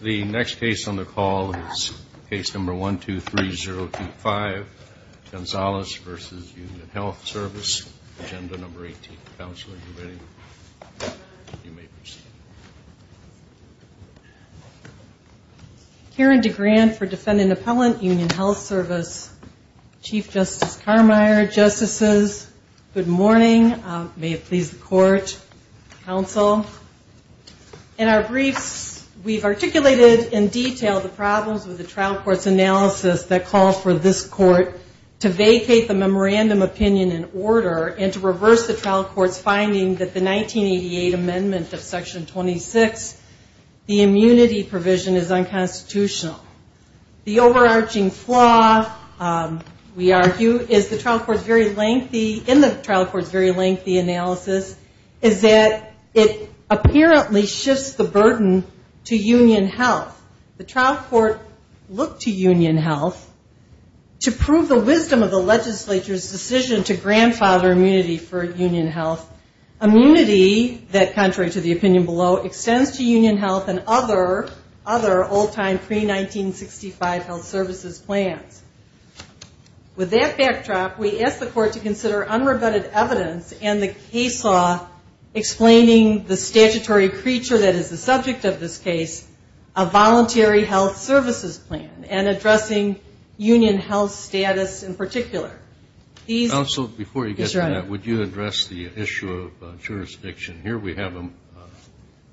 The next case on the call is case number 123025, Gonzales v. Union Health Service, Agenda No. 18, Counselor's Division. You may proceed. Karen DeGrande for Defendant Appellant, Union Health Service. Chief Justice Carmeier, Justices, good morning. May it please the Court, Counsel. In our briefs, we've articulated in detail the problems with the trial court's analysis that call for this Court to vacate the memorandum opinion in order and to reverse the trial court's finding that the 1988 amendment of section 26, the immunity provision is unconstitutional. The overarching flaw, we argue, is the trial court's very lengthy, in the trial court's lengthy analysis, is that it apparently shifts the burden to Union Health. The trial court looked to Union Health to prove the wisdom of the legislature's decision to grandfather immunity for Union Health, immunity that, contrary to the opinion below, extends to Union Health and other old-time, pre-1965 health services plans. With that backdrop, we ask the Court to consider unrebutted evidence and the case law explaining the statutory creature that is the subject of this case, a voluntary health services plan, and addressing Union Health's status in particular. Counsel, before you get to that, would you address the issue of jurisdiction? Here we have a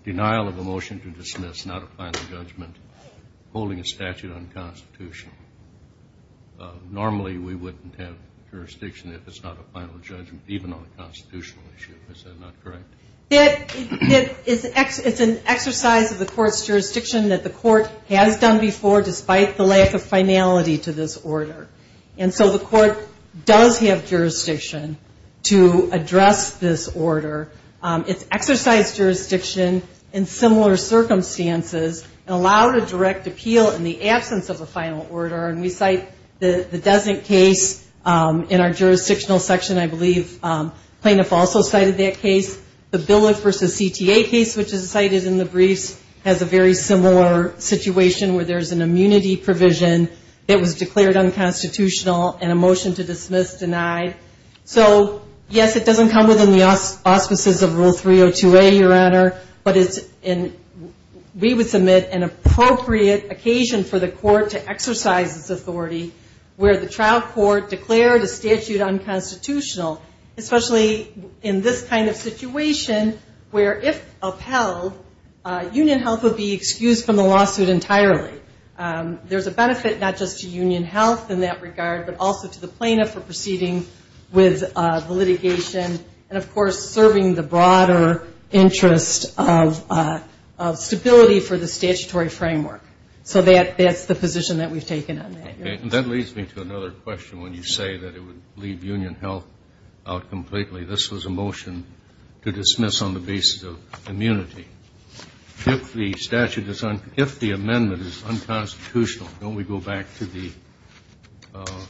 denial of a motion to dismiss, not a final judgment, holding a statute unconstitutional. Normally we wouldn't have jurisdiction if it's not a final judgment, even on a constitutional issue. Is that not correct? It's an exercise of the Court's jurisdiction that the Court has done before, despite the lack of finality to this order. And so the Court does have jurisdiction to address this and allow a direct appeal in the absence of a final order. And we cite the Dessink case in our jurisdictional section, I believe the plaintiff also cited that case. The Billiff v. CTA case, which is cited in the briefs, has a very similar situation where there's an immunity provision that was declared unconstitutional and a motion to dismiss denied. So, yes, it doesn't come within the auspices of Rule 302A, Your Honor, but we would submit an appropriate occasion for the Court to exercise this authority where the trial court declared a statute unconstitutional, especially in this kind of situation where if upheld, union health would be excused from the lawsuit entirely. There's a benefit not just to union health in that regard, but also to the plaintiff for proceeding with the litigation and of broader interest of stability for the statutory framework. So that's the position that we've taken on that. Okay. And that leads me to another question when you say that it would leave union health out completely. This was a motion to dismiss on the basis of immunity. If the amendment is unconstitutional, don't we go back to the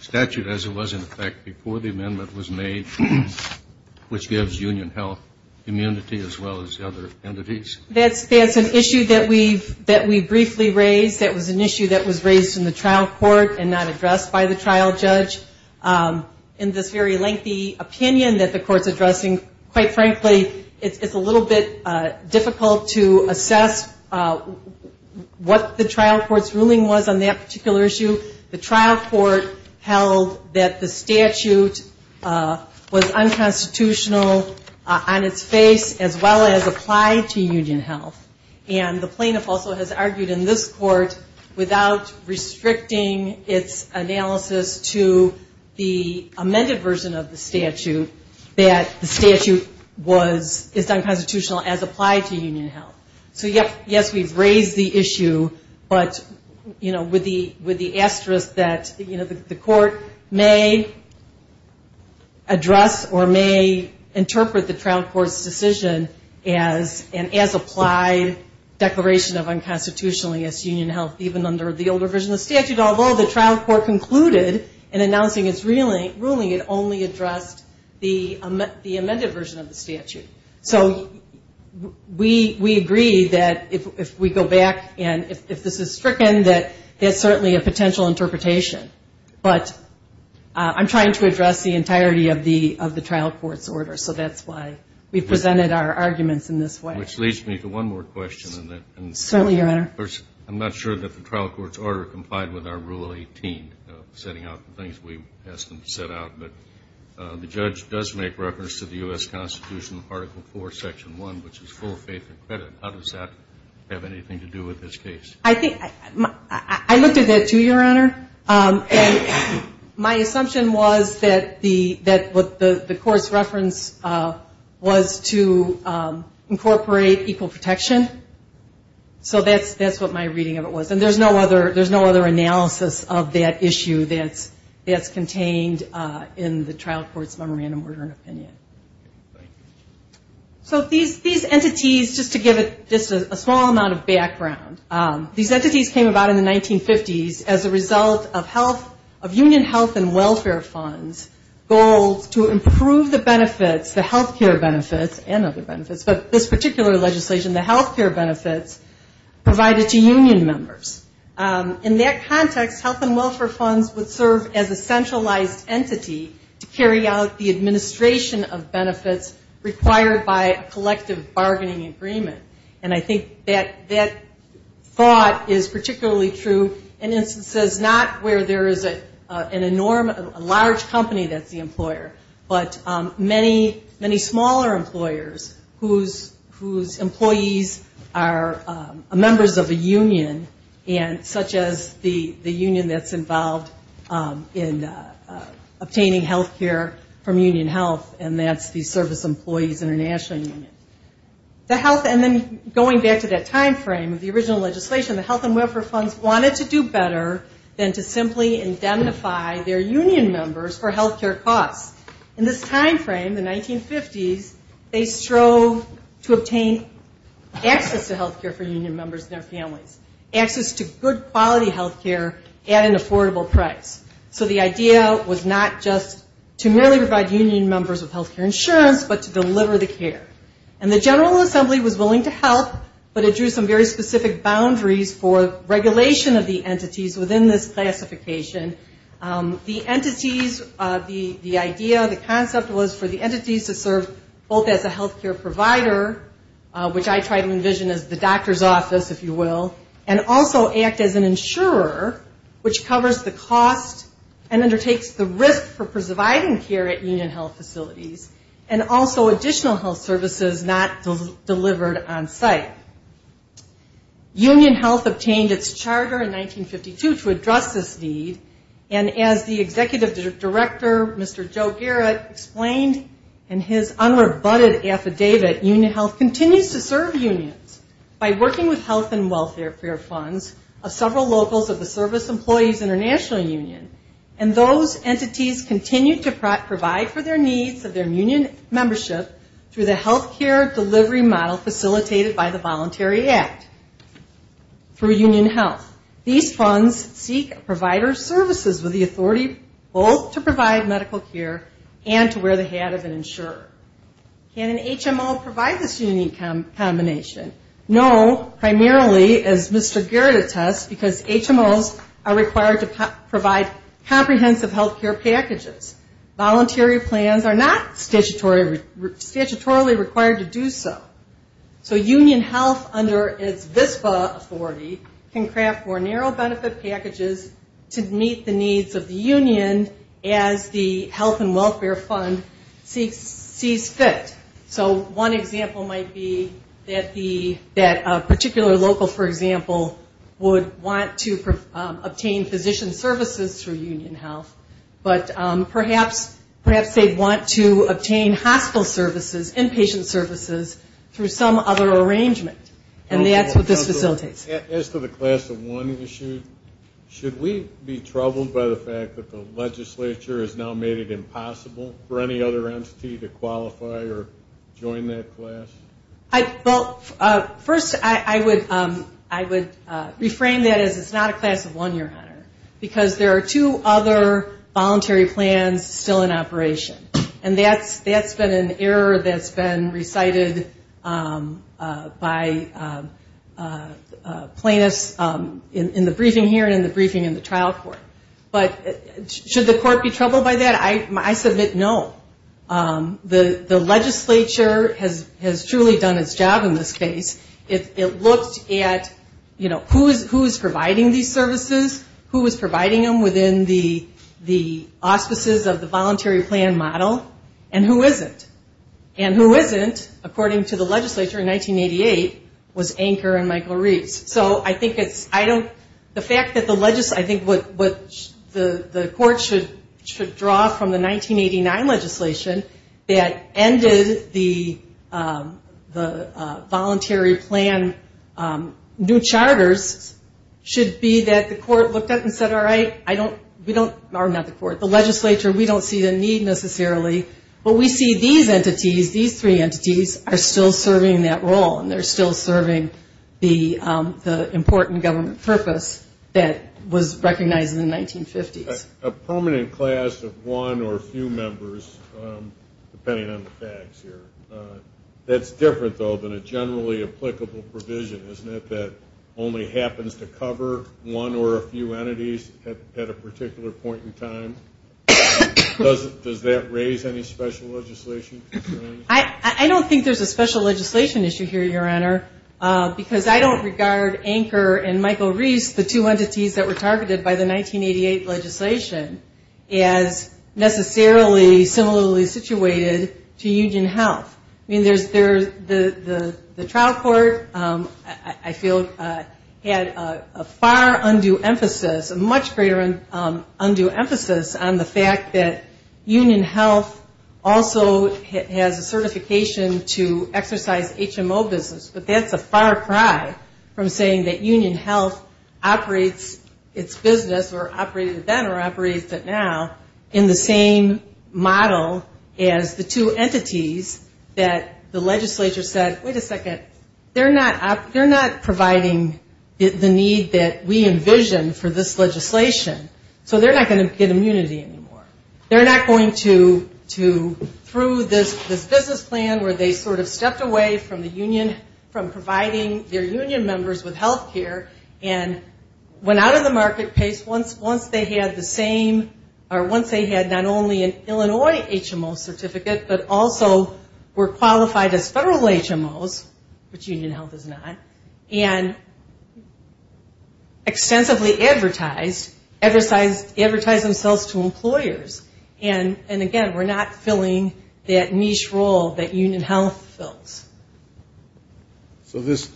statute as it was in effect before the amendment was made, which gives union health immunity as well as the other entities? That's an issue that we've briefly raised. That was an issue that was raised in the trial court and not addressed by the trial judge. In this very lengthy opinion that the Court's addressing, quite frankly, it's a little bit difficult to assess what the trial court's statute was unconstitutional on its face as well as applied to union health. And the plaintiff also has argued in this court without restricting its analysis to the amended version of the statute, that the statute is unconstitutional as applied to union health. So yes, we've raised the issue, but with the asterisk that the Court may address or may interpret the trial court's decision as an as applied declaration of unconstitutionality as to union health even under the older version of the statute, although the trial court concluded in announcing its ruling it only addressed the amended version of the statute. So we agree that if we go back and if this is stricken, that there's certainly a potential interpretation. But I'm trying to address the entirety of the trial court's order. So that's why we've presented our arguments in this way. Which leads me to one more question. Certainly, Your Honor. I'm not sure that the trial court's order complied with our Rule 18, setting out the things we asked them to set out. But the judge does make reference to the U.S. Constitution Article 4, Section 1, which is full faith and credit. How does that have anything to do with this case? I looked at that too, Your Honor. And my assumption was that the Court's reference was to incorporate equal protection. So that's what my reading of it was. And there's no other analysis of that issue that's contained in the trial court's memorandum of order and opinion. Thank you. So these entities, just to give it a small amount of background, these entities came about in the 1950s as a result of Union Health and Welfare Fund's goals to improve the benefits, the health care benefits and other benefits, but this particular legislation, the health care benefits provided to union members. In that context, health and welfare funds would serve as a centralized entity to carry out the administration of benefits required by a collective bargaining agreement. And I think that thought is particularly true in instances not where there is a large company that's the employer, but many smaller employers whose employees are members of a union, such as the union that's involved in obtaining health care from Union Health, and that's the Service Employees International Union. The health, and then going back to that time frame of the original legislation, the health and welfare funds wanted to do better than to simply indemnify their union members for access to health care for union members and their families, access to good quality health care at an affordable price. So the idea was not just to merely provide union members with health care insurance, but to deliver the care. And the General Assembly was willing to help, but it drew some very specific boundaries for regulation of the entities within this classification. The entities, the idea, the concept was for the entities to serve both as a health care provider, which I try to envision as the doctor's office, if you will, and also act as an insurer, which covers the cost and undertakes the risk for preserving care at union health facilities, and also additional health services not delivered on site. Union Health obtained its charter in 1952 to address this need, and as the Executive Director, Mr. Joe Garrett, explained in his unrebutted affidavit, Union Health continues to serve unions by working with health and welfare funds of several locals of the Service Employees International Union, and those entities continue to provide for their needs of their union membership through the health care delivery model facilitated by the Voluntary Act for both to provide medical care and to wear the hat of an insurer. Can an HMO provide this unique combination? No, primarily, as Mr. Garrett attests, because HMOs are required to provide comprehensive health care packages. Voluntary plans are not statutorily required to do so. So Union Health, under its VSPA authority, can craft more narrow benefit packages to meet the needs of the union as the health and welfare fund sees fit. So one example might be that a particular local, for example, would want to obtain physician services through Union Health, but perhaps they want to obtain hospital services, inpatient services, through some other arrangement, and that's what this facilitates. As to the class of one issue, should we be troubled by the fact that the legislature has now made it impossible for any other entity to qualify or join that class? Well, first, I would reframe that as it's not a class of one, your honor, because there are two other voluntary plans still in operation, and that's been an error that's been recited by plaintiffs in the briefing here and in the briefing in the trial court. But should the court be troubled by that? I submit no. The legislature has truly done its job in this case. It looks at, you know, who is providing these services, who is providing them within the auspices of the voluntary plan model, and who isn't. And who isn't, according to the legislature in 1988, was Anker and Michael Reeves. So I think it's, I don't, the fact that the, I think what the court should draw from the 1989 legislation that ended the voluntary plan new charters should be that the court looked at it and said, all right, I don't, we don't, or not the court, the legislature, we don't see the need necessarily, but we see these entities, these three entities are still serving that role, and they're still serving the important government purpose that was recognized in the 1950s. A permanent class of one or a few members, depending on the facts here, that's different though than a generally applicable provision, isn't it, that only happens to cover one or a few entities at a particular point in time? Does that raise any special legislation concerns? I don't think there's a special legislation issue here, Your Honor, because I don't regard Anker and Michael Reeves, the two entities that were targeted by the 1988 legislation, as necessarily similarly situated to Union Health. I mean, there's, the trial court, I feel, had a far undue emphasis, a much greater undue emphasis on the fact that Union Health also has a certification to exercise HMO business, but that's a far cry from saying that Union Health operates its business, or operated then or operates it now, in the same model as the two entities that the legislature said, wait a second, they're not, they're not providing the need that we envisioned for this legislation, so they're not going to get immunity anymore. They're not going to, through this business plan where they sort of stepped away from the union, from providing their union members with health care, and went out of the marketplace once they had the same, or once they had not only an Illinois HMO certificate, but also were qualified as federal HMOs, which Union Health is not, and extensively advertised, advertised themselves to employers, and again, we're not filling that niche role that Union Health fills. So this,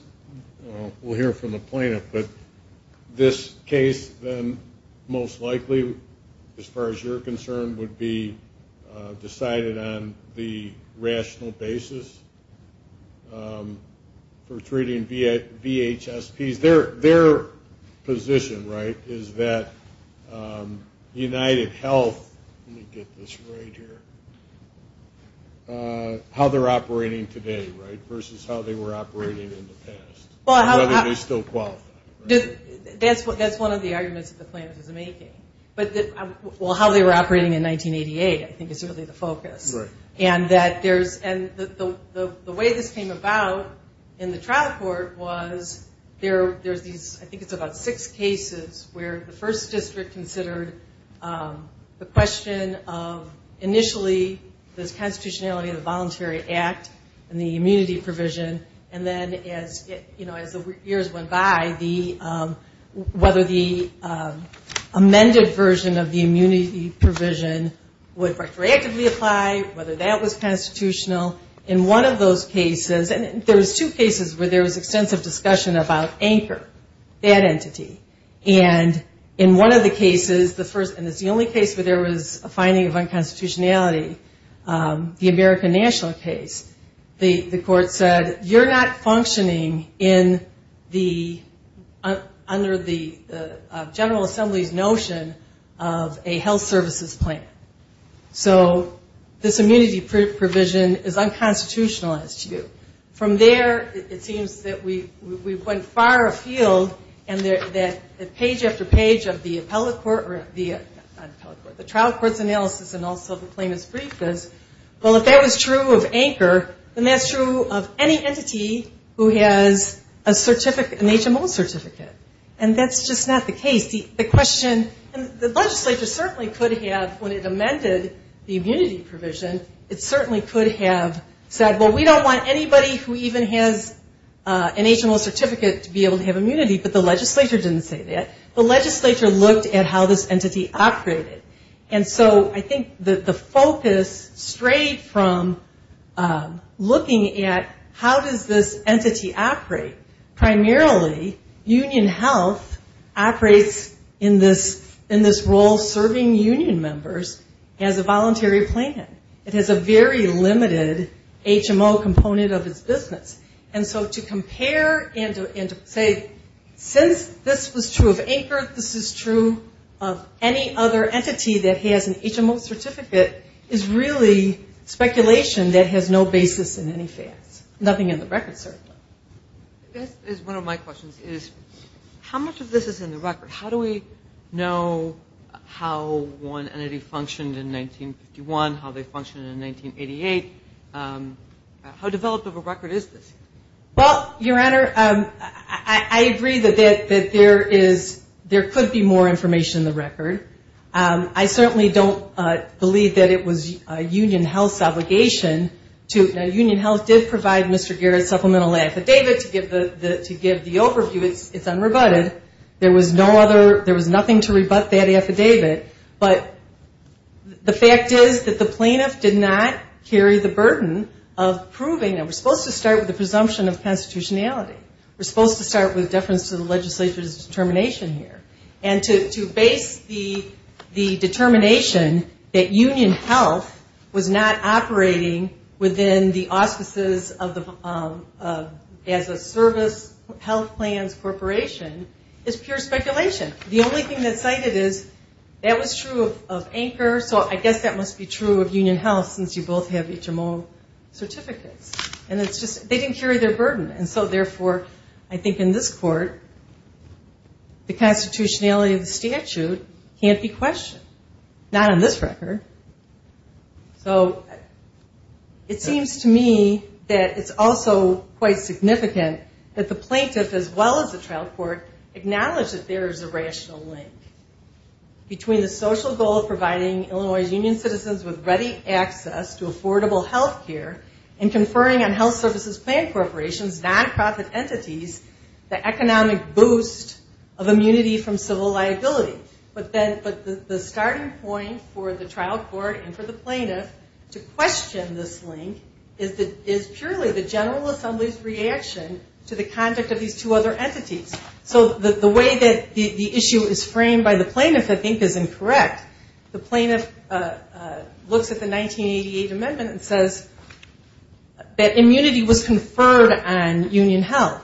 we'll hear from the plaintiff, but this case then most likely, as far as you're concerned, would be decided on the rational basis for treating VHSPs. Their position, right, is that United Health, let me get this right here, how they're operating today, right, versus how they were operating in the past, whether they still qualify. That's one of the arguments that the plaintiff is making. Well, how they were operating in 1988, I think, is really the focus, and that there's, and the way this came about in the trial court was there's these, I think it's about six cases where the first district considered the question of initially this constitutionality of whether the amended version of the immunity provision would retroactively apply, whether that was constitutional. In one of those cases, and there was two cases where there was extensive discussion about anchor, that entity, and in one of the cases, and it's the only case where there was a finding of unconstitutionality, the American National case, the court said, you're not functioning in the, under the General Assembly's notion of a health services plan. So this immunity provision is unconstitutional as to you. From there, it seems that we went far afield and that page after page of the appellate court, not appellate court, the trial court's analysis and also the true of anchor, and that's true of any entity who has a certificate, an HMO certificate, and that's just not the case. The question, and the legislature certainly could have, when it amended the immunity provision, it certainly could have said, well, we don't want anybody who even has an HMO certificate to be able to have immunity, but the legislature didn't say that. The legislature looked at how this entity operated, and so I think that the focus strayed from looking at how does this entity operate. Primarily, union health operates in this role serving union members as a voluntary plan. It has a very limited HMO component of its business, and so to compare and to say, since this was true of anchor, this is true of any other entity that has an HMO certificate is really speculation that has no basis in any facts. Nothing in the record, certainly. This is one of my questions, is how much of this is in the record? How do we know how one entity functioned in 1951, how they functioned in 1988? How developed of a record is this? Well, Your Honor, I agree that there could be more information in the record. I certainly don't believe that it was union health's affidavit to give the overview. It's unrebutted. There was nothing to rebut that affidavit, but the fact is that the plaintiff did not carry the burden of proving it. We're supposed to start with the presumption of constitutionality. We're supposed to start with deference to the legislature's determination here, and to base the determination that union health was not operating within the auspices of the statute as a service health plans corporation is pure speculation. The only thing that's cited is that was true of anchor, so I guess that must be true of union health, since you both have HMO certificates. And it's just, they didn't carry their burden, and so therefore, I think in this court, the constitutionality of the statute can't be questioned. Not on this record. So, it seems to me that it's also quite significant that the plaintiff, as well as the trial court, acknowledge that there is a rational link between the social goal of providing Illinois' union citizens with ready access to affordable health care, and conferring on health services plan corporations, non-profit entities, the economic boost of immunity from civil liability. But the starting point for the trial court and for the plaintiff to question this link is purely the general assembly's reaction to the conduct of these two other entities. So, the way that the issue is framed by the plaintiff, I think, is incorrect. The plaintiff looks at the 1988 amendment and says that immunity was conferred on union health.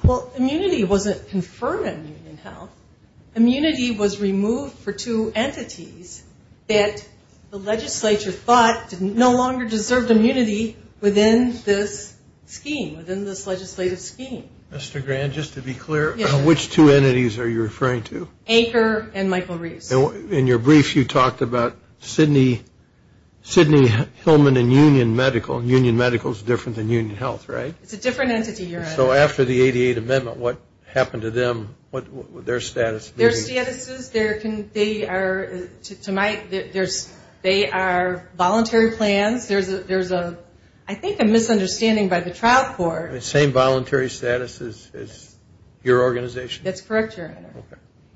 Immunity was removed for two entities that the legislature thought no longer deserved immunity within this scheme, within this legislative scheme. Mr. Grand, just to be clear, which two entities are you referring to? Anchor and Michael Reeves. In your brief, you talked about Sidney Hillman and union medical. Union medical is different than union health, right? It's a different entity, Your Honor. So, after the 1988 amendment, what happened to them? Their status? Their statuses, they are voluntary plans. There's, I think, a misunderstanding by the trial court. The same voluntary status as your organization? That's correct, Your Honor.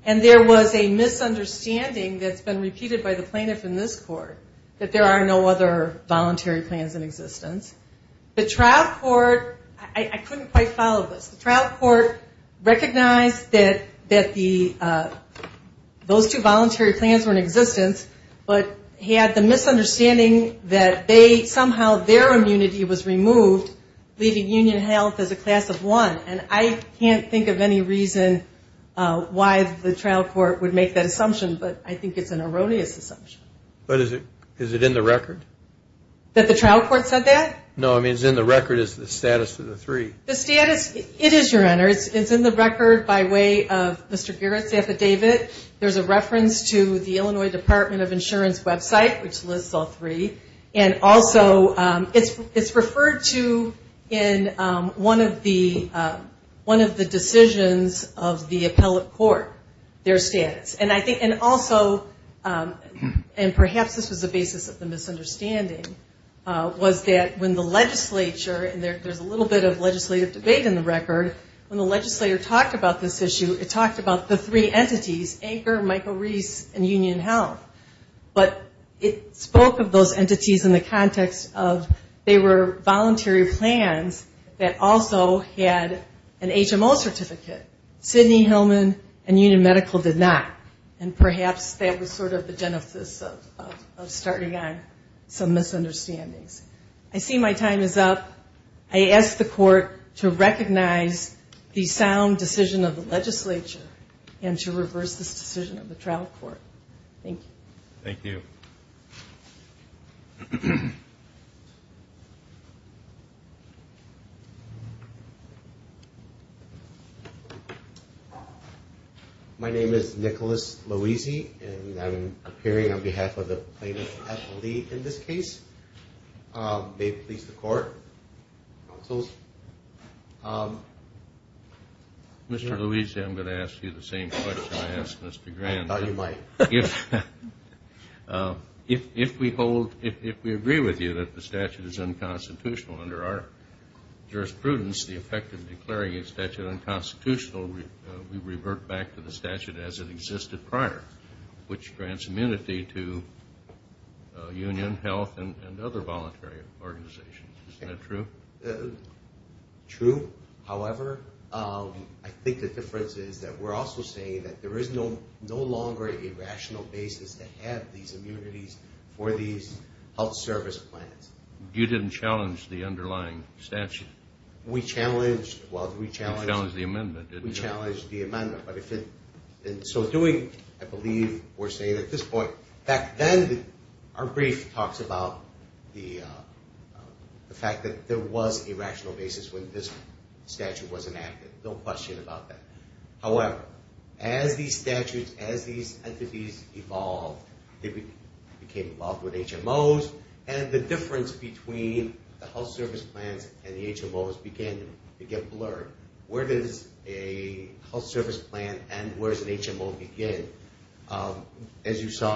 And there was a misunderstanding that's been repeated by the plaintiff in this court, that there are no other entities that followed this. The trial court recognized that those two voluntary plans were in existence, but had the misunderstanding that somehow their immunity was removed, leaving union health as a class of one. And I can't think of any reason why the trial court would make that assumption, but I think it's an erroneous assumption. But is it in the record? That the trial court said that? No, I mean, is it in the record, is the status of the three? The status, it is, Your Honor. It's in the record by way of Mr. Gerrit's affidavit. There's a reference to the Illinois Department of Insurance website, which lists all three. And also, it's referred to in one of the decisions of the appellate court, their status. And I think, and also, and perhaps this was the basis of the legislative debate in the record, when the legislator talked about this issue, it talked about the three entities, Anchor, Michael Reese, and Union Health. But it spoke of those entities in the context of they were voluntary plans that also had an HMO certificate. Sidney, Hillman, and Union Medical did not. And perhaps that was sort of the basis to recognize the sound decision of the legislature and to reverse this decision of the trial court. Thank you. Thank you. My name is Nicholas Louisi, and I'm appearing on behalf of the plaintiff's athlete in this case. May it please the court, counsels. Mr. Louisi, I'm going to ask you the same question I asked Mr. Grant. I thought you might. If we hold, if we agree with you that the statute is unconstitutional under our jurisprudence, the effect of declaring a statute unconstitutional, we revert back to the statute as it existed prior, which grants immunity to Union Health and other voluntary organizations. Isn't that true? True. However, I think the difference is that we're also saying that there is no longer a rational basis to have these immunities for these health service plans. You didn't challenge the underlying statute. We challenged, well, we challenged... You challenged the amendment, didn't you? But if it, in so doing, I believe we're saying at this point, back then our brief talks about the fact that there was a rational basis when this statute was enacted. No question about that. As you saw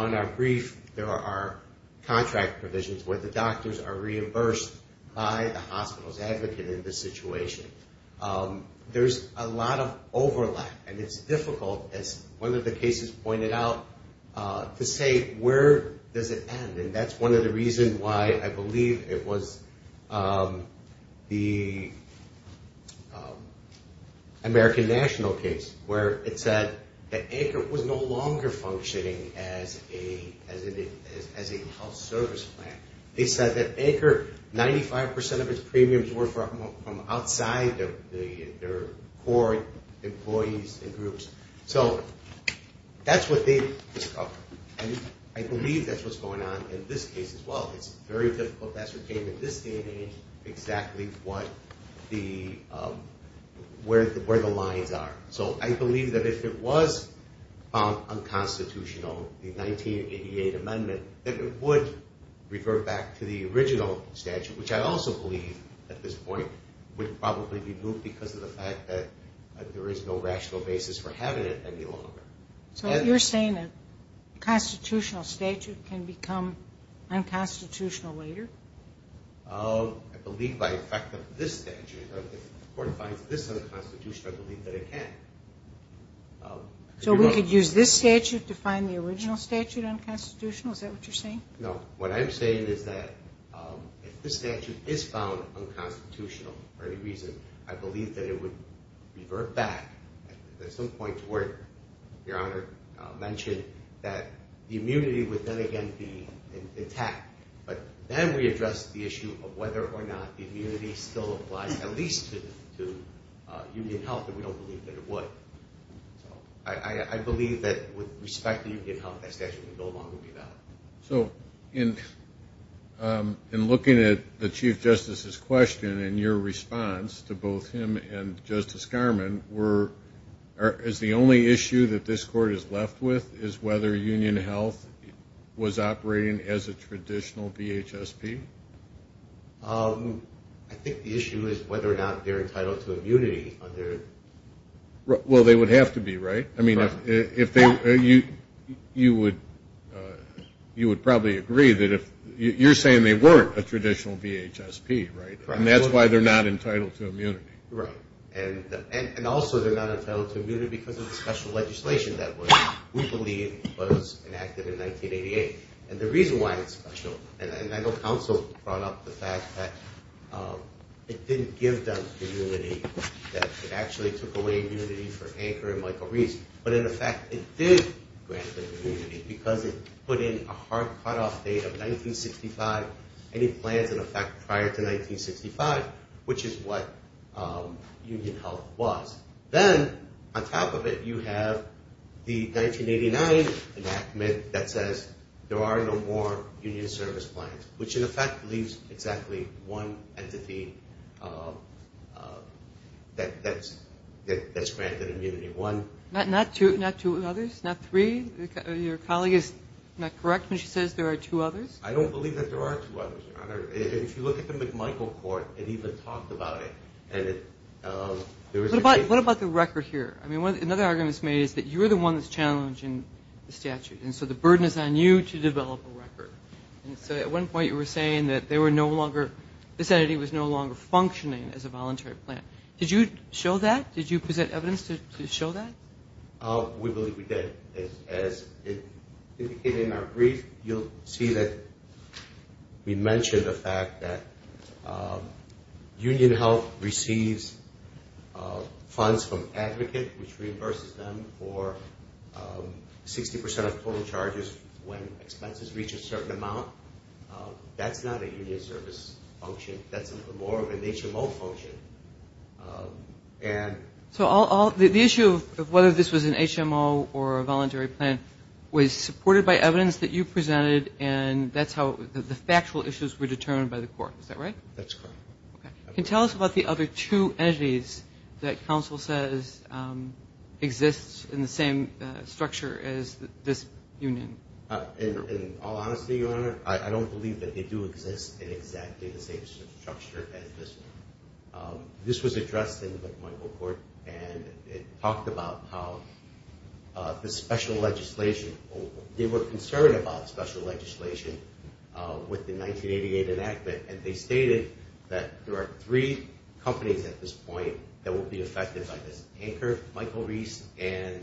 in our brief, there are contract provisions where the doctors are reimbursed by the hospital's advocate in this situation. There's a lot of overlap, and it's difficult, as one of the cases pointed out, to say where does it end. And that's one of the reasons why I believe it was the American National case where it said that ACRE was no longer functioning as a health service plan. They said that ACRE, 95% of its premiums were from outside their core employees and groups. So that's what they discovered. And I believe that's what's going on in this case as well. It's very difficult to ascertain in this day and age exactly where the lines are. So I believe that if it was found unconstitutional, the 1988 amendment, that it would refer back to the original statute, which I also believe at this point would probably be moved because of the fact that there is no rational basis for having it any longer. So you're saying a constitutional statute can become unconstitutional later? I believe by effect of this statute. If the court finds this unconstitutional, I believe that it can. So we could use this statute to find the original statute unconstitutional? Is that what you're saying? No. What I'm saying is that if this statute is found unconstitutional for any reason, I believe that it would revert back at some point to where Your Honor mentioned that the immunity would then again be intact. But then we address the issue of whether or not the immunity still applies at least to union health, and we don't believe that it would. So I believe that with respect to union health, that statute would no longer be valid. So in looking at the Chief Justice's question and your response to both him and Justice Garmon, is the only issue that this court is left with is whether union health was operating as a traditional DHSP? I think the issue is whether or not they're entitled to immunity. Well, they would have to be, right? I mean, you would probably agree that if – you're saying they weren't a traditional DHSP, right? And that's why they're not entitled to immunity. Right. And also they're not entitled to immunity because of the special legislation that we believe was enacted in 1988. And the reason why it's special – and I know counsel brought up the fact that it didn't give them immunity, that it actually took away immunity for Anker and Michael Reese. But in effect, it did grant them immunity because it put in a hard cutoff date of 1965, any plans in effect prior to 1965, which is what union health was. Then on top of it, you have the 1989 enactment that says there are no more union service plans, which in effect leaves exactly one entity that's granted immunity. Not two others? Not three? Your colleague is not correct when she says there are two others? I don't believe that there are two others, Your Honor. If you look at the McMichael court, it even talked about it. What about the record here? I mean, another argument that's made is that you're the one that's challenging the statute, and so the burden is on you to develop a record. And so at one point you were saying that they were no longer – this entity was no longer functioning as a voluntary plan. Did you show that? Did you present evidence to show that? We believe we did. As indicated in our brief, you'll see that we mentioned the fact that union health receives funds from advocates, which reimburses them for 60 percent of total charges when expenses reach a certain amount. That's not a union service function. That's more of a nature law function. So the issue of whether this was an HMO or a voluntary plan was supported by evidence that you presented, and that's how the factual issues were determined by the court. Is that right? That's correct. Can you tell us about the other two entities that counsel says exist in the same structure as this union? In all honesty, Your Honor, I don't believe that they do exist in exactly the same structure as this one. This was addressed in the McMichael court, and it talked about how the special legislation – they were concerned about special legislation with the 1988 enactment, and they stated that there are three companies at this point that will be affected by this – Anchor, Michael Reese, and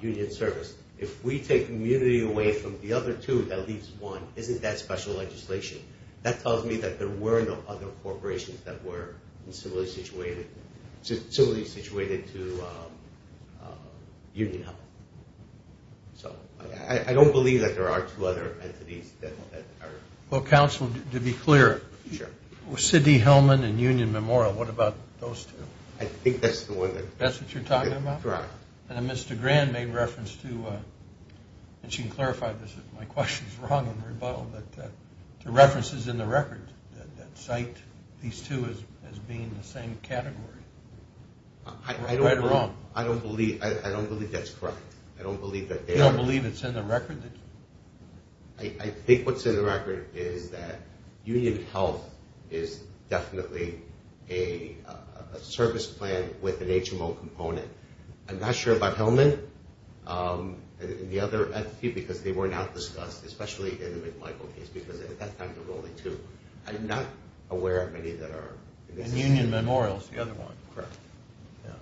Union Service. If we take immunity away from the other two that leaves one, isn't that special legislation? That tells me that there were no other corporations that were similarly situated to Union Health. So I don't believe that there are two other entities that are – Well, counsel, to be clear, Sidney Hellman and Union Memorial, what about those two? I think that's the one that – That's what you're talking about? Correct. And then Mr. Grand made reference to – and you can clarify this if my question is wrong on the rebuttal – but the reference is in the record that cite these two as being the same category. I don't believe that's correct. You don't believe it's in the record? I think what's in the record is that Union Health is definitely a service plan with an HMO component. I'm not sure about Hellman and the other entity because they were not discussed, especially in the McMichael case, because at that time there were only two. I'm not aware of any that are – And Union Memorial is the other one. Correct.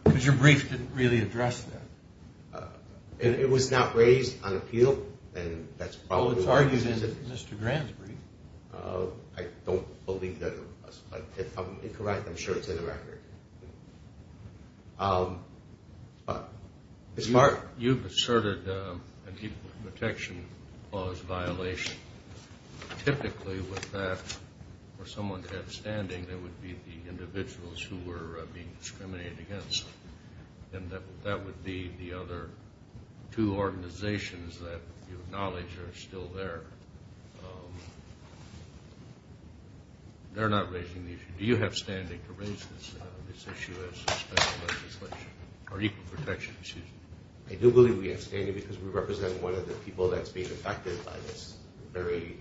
Because your brief didn't really address that. It was not raised on appeal, and that's probably – Well, it's argued in Mr. Grand's brief. I don't believe that it was, but if I'm incorrect, I'm sure it's in the record. Ms. Mark? You've asserted an equal protection clause violation. Typically with that, for someone to have standing, they would be the individuals who were being discriminated against, and that would be the other two organizations that you acknowledge are still there. They're not raising the issue. Do you have standing to raise this issue as a special legislation or equal protection issue? I do believe we have standing because we represent one of the people that's being affected by this very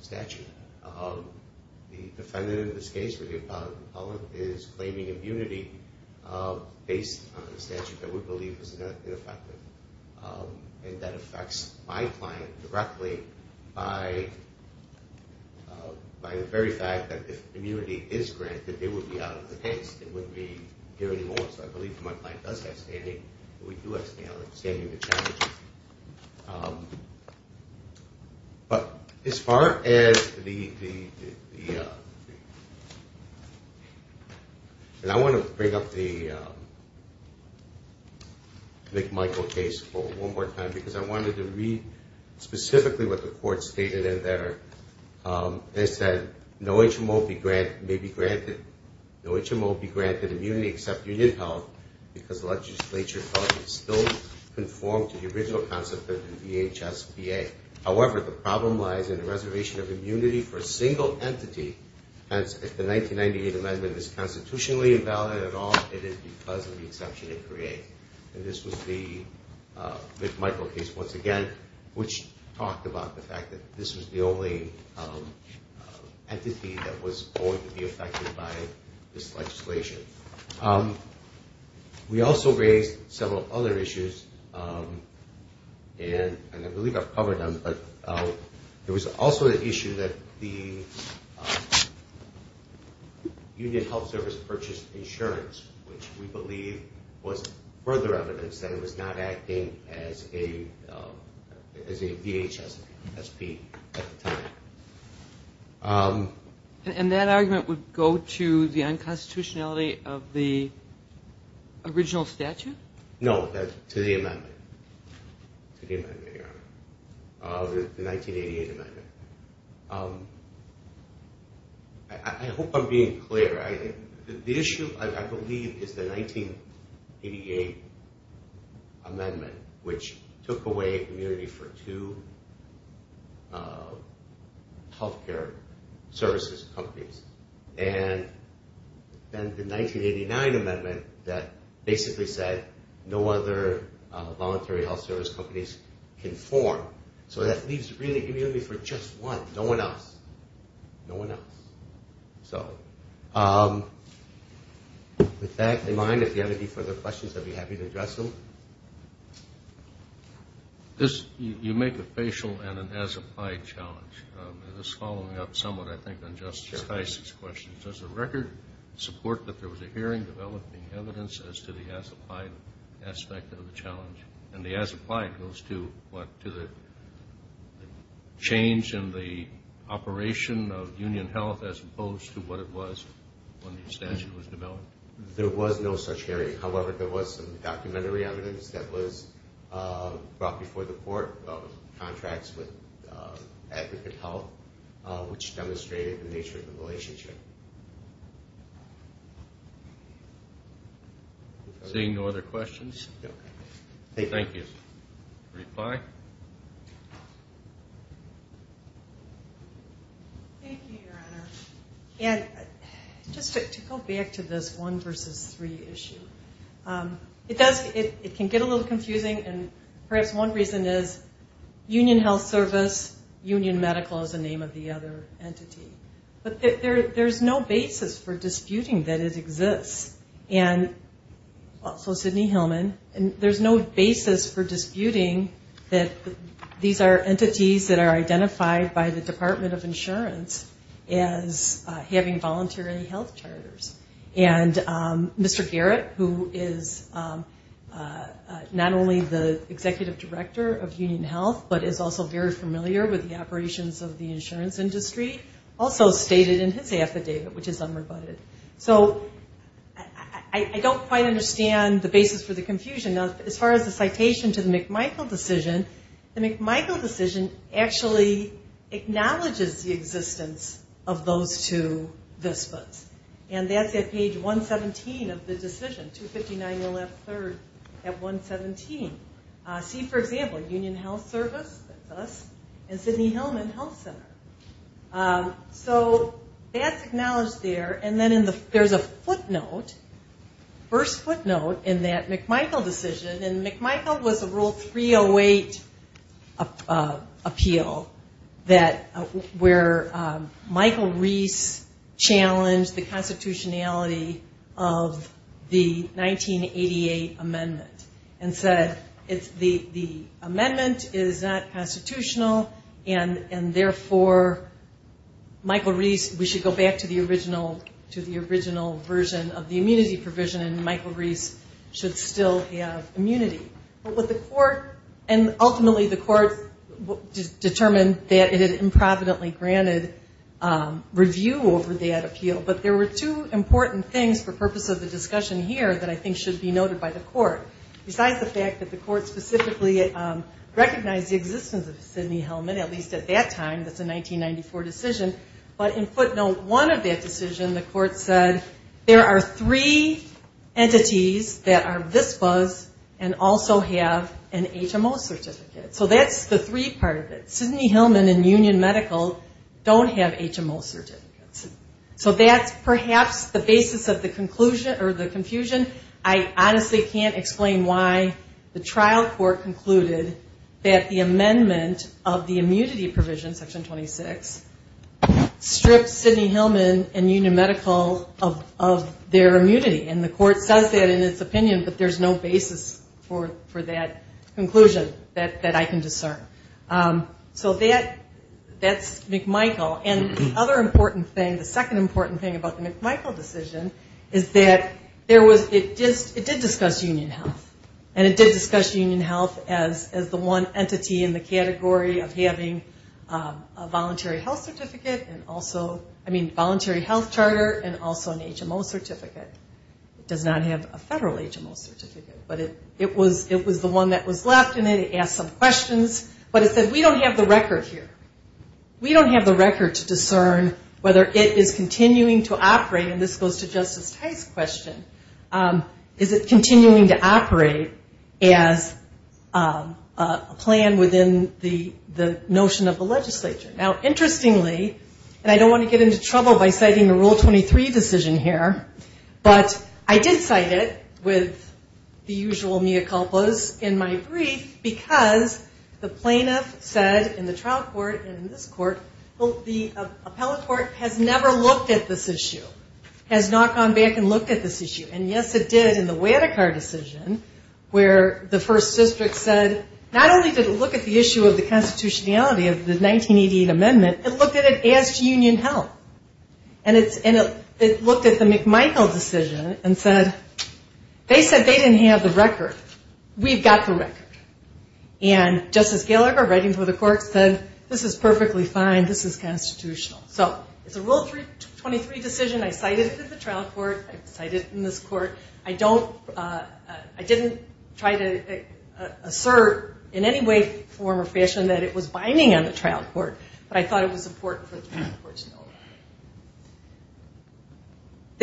statute. The defendant in this case is claiming immunity based on the statute that we believe is ineffective, and that affects my client directly by the very fact that if immunity is granted, they would be out of the case. They wouldn't be here anymore. So I believe if my client does have standing, we do have standing challenges. But as far as the – and I want to bring up the McMichael case one more time because I wanted to read specifically what the court stated in there. They said no HMO may be granted immunity except union held because the legislature felt it still conformed to the original concept of the VHSPA. However, the problem lies in the reservation of immunity for a single entity, and if the 1998 amendment is constitutionally invalid at all, it is because of the exception it creates. And this was the McMichael case once again, which talked about the fact that this was the only entity that was going to be affected by this legislation. We also raised several other issues, and I believe I've covered them, but there was also the issue that the union health service purchased insurance, which we believe was further evidence that it was not acting as a VHSP at the time. And that argument would go to the unconstitutionality of the original statute? No, that's to the amendment, to the amendment, Your Honor, the 1988 amendment. I hope I'm being clear. The issue, I believe, is the 1988 amendment, which took away immunity for two health care services companies. And then the 1989 amendment that basically said no other voluntary health service companies can form. So that leaves really immunity for just one, no one else, no one else. So with that in mind, if you have any further questions, I'd be happy to address them. You make the facial and an as-applied challenge. This is following up somewhat, I think, on Justice Heise's question. Does the record support that there was a hearing developing evidence as to the as-applied aspect of the challenge? And the as-applied goes to what? To the change in the operation of union health as opposed to what it was when the statute was developed? There was no such hearing. However, there was some documentary evidence that was brought before the court of contracts with Advocate Health, which demonstrated the nature of the relationship. Seeing no other questions. Thank you. Reply. Thank you, Your Honor. And just to go back to this one versus three issue, it can get a little confusing, and perhaps one reason is union health service, union medical is the name of the other entity. But there's no basis for disputing that it exists. And also Sidney Hillman. There's no basis for disputing that these are entities that are identified by the Department of Insurance as having voluntary health charters. And Mr. Garrett, who is not only the executive director of union health, but is also very familiar with the operations of the insurance industry, also stated in his affidavit, which is unrebutted. So I don't quite understand the basis for the confusion. As far as the citation to the McMichael decision, the McMichael decision actually acknowledges the existence of those two VISPAs. And that's at page 117 of the decision, 259.0F3 at 117. See, for example, union health service, that's us, and Sidney Hillman Health Center. So that's acknowledged there. And then there's a footnote, first footnote in that McMichael decision. And McMichael was a Rule 308 appeal where Michael Reese challenged the constitutionality of the 1988 amendment and said the amendment is not constitutional, and therefore, Michael Reese, we should go back to the original version of the immunity provision, and Michael Reese should still have immunity. And ultimately the court determined that it had improvidently granted review over that appeal. But there were two important things for purpose of the discussion here that I think should be noted by the court. Besides the fact that the court specifically recognized the existence of Sidney Hillman, at least at that time, that's a 1994 decision, but in footnote one of that decision, the court said there are three entities that are VISPAs and also have an HMO certificate. So that's the three part of it. Sidney Hillman and Union Medical don't have HMO certificates. So that's perhaps the basis of the confusion. I honestly can't explain why the trial court concluded that the amendment of the immunity provision, Section 26, stripped Sidney Hillman and Union Medical of their immunity. And the court says that in its opinion, but there's no basis for that conclusion that I can discern. So that's McMichael. And the other important thing, the second important thing about the McMichael decision, is that it did discuss Union Health. And it did discuss Union Health as the one entity in the category of having a voluntary health certificate and also, I mean voluntary health charter and also an HMO certificate. It does not have a federal HMO certificate. But it was the one that was left and it asked some questions. But it said we don't have the record here. We don't have the record to discern whether it is continuing to operate, and this goes to Justice Tice's question, is it continuing to operate as a plan within the notion of the legislature. Now interestingly, and I don't want to get into trouble by citing the Rule 23 decision here, but I did cite it with the usual mea culpas in my brief because the plaintiff said in the trial court and in this court, the appellate court has never looked at this issue, has not gone back and looked at this issue. And yes it did in the Wadikar decision where the First District said not only did it look at the issue of the constitutionality of the 1988 amendment, it looked at it as to Union Health. And it looked at the McMichael decision and said they said they didn't have the record. We've got the record. And Justice Gallagher writing for the court said this is perfectly fine. This is constitutional. So it's a Rule 23 decision. I cited it in the trial court. I cited it in this court. I didn't try to assert in any way, form, or fashion that it was binding on the trial court. But I thought it was important for the trial court to know that.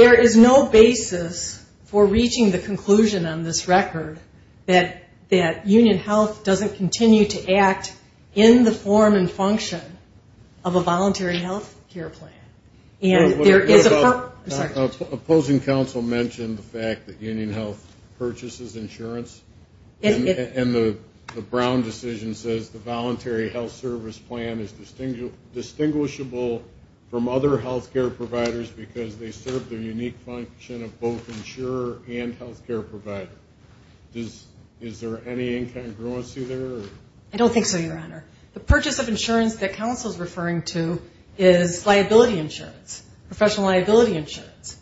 There is no basis for reaching the conclusion on this record that Union Health doesn't continue to act in the form and function of a voluntary health care plan. And there is a purpose. Opposing counsel mentioned the fact that Union Health purchases insurance. And the Brown decision says the voluntary health service plan is distinguishable from other health care providers because they serve the unique function of both insurer and health care provider. Is there any incongruency there? I don't think so, Your Honor. The purchase of insurance that counsel is referring to is liability insurance, professional liability insurance.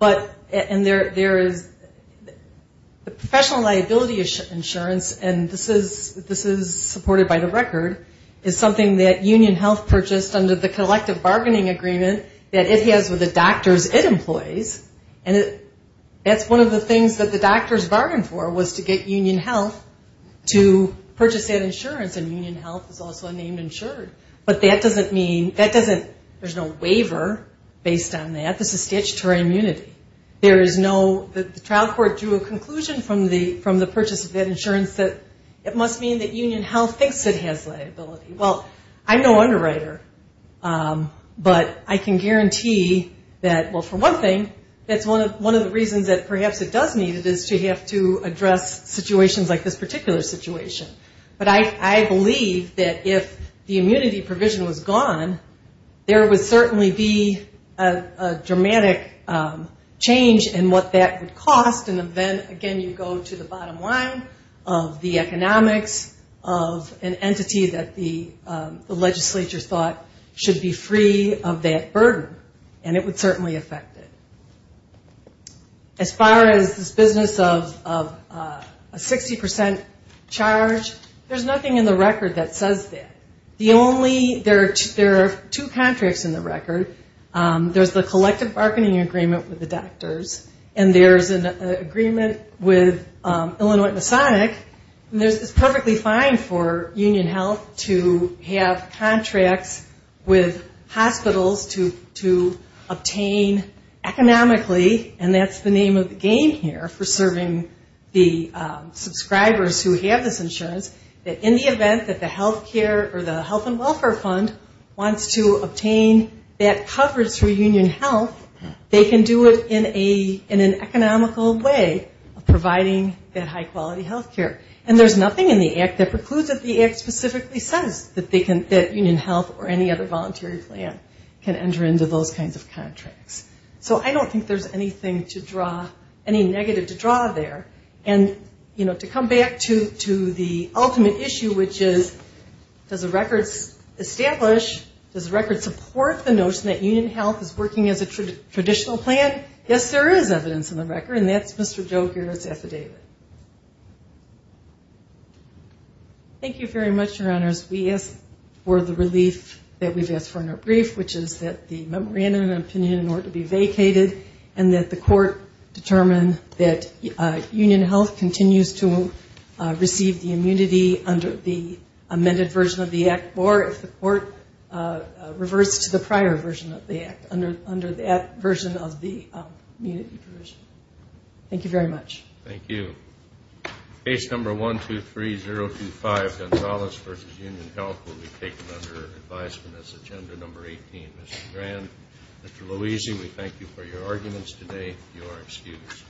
And there is professional liability insurance, and this is supported by the record, is something that Union Health purchased under the collective bargaining agreement that it has with the doctors it employs. And that's one of the things that the doctors bargained for was to get Union Health to purchase that insurance. And Union Health is also named insured. But that doesn't mean, there's no waiver based on that. This is statutory immunity. The trial court drew a conclusion from the purchase of that insurance that it must mean that Union Health thinks it has liability. Well, I'm no underwriter, but I can guarantee that, well, for one thing, that's one of the reasons that perhaps it does need it is to have to address situations like this particular situation. But I believe that if the immunity provision was gone, there would certainly be a dramatic change in what that would cost. And then, again, you go to the bottom line of the economics of an entity that the legislature thought should be free of that burden. And it would certainly affect it. As far as this business of a 60% charge, there's nothing in the record that says that. There are two contracts in the record. There's the collective bargaining agreement with the doctors, and there's an agreement with Illinois Masonic. And it's perfectly fine for Union Health to have contracts with hospitals to obtain economically, and that's the name of the game here for serving the subscribers who have this insurance, that in the event that the health care or the health and welfare fund wants to obtain that coverage through Union Health, they can do it in an economical way of providing that high-quality health care. And there's nothing in the act that precludes that the act specifically says that Union Health or any other voluntary plan can enter into those kinds of contracts. So I don't think there's anything to draw, any negative to draw there. And, you know, to come back to the ultimate issue, which is does the record establish, does the record support the notion that Union Health is working as a traditional plan? Yes, there is evidence in the record, and that's Mr. Joe Gehr's affidavit. Thank you very much, Your Honors. We ask for the relief that we've asked for in our brief, which is that the memorandum of opinion in order to be vacated and that the court determine that Union Health continues to receive the immunity under the amended version of the act or if the court reverts to the prior version of the act under that version of the immunity provision. Thank you very much. Thank you. Case number 123025, Gonzalez v. Union Health, will be taken under advisement as agenda number 18. Mr. Grand, Mr. Louisi, we thank you for your arguments today. You are excused.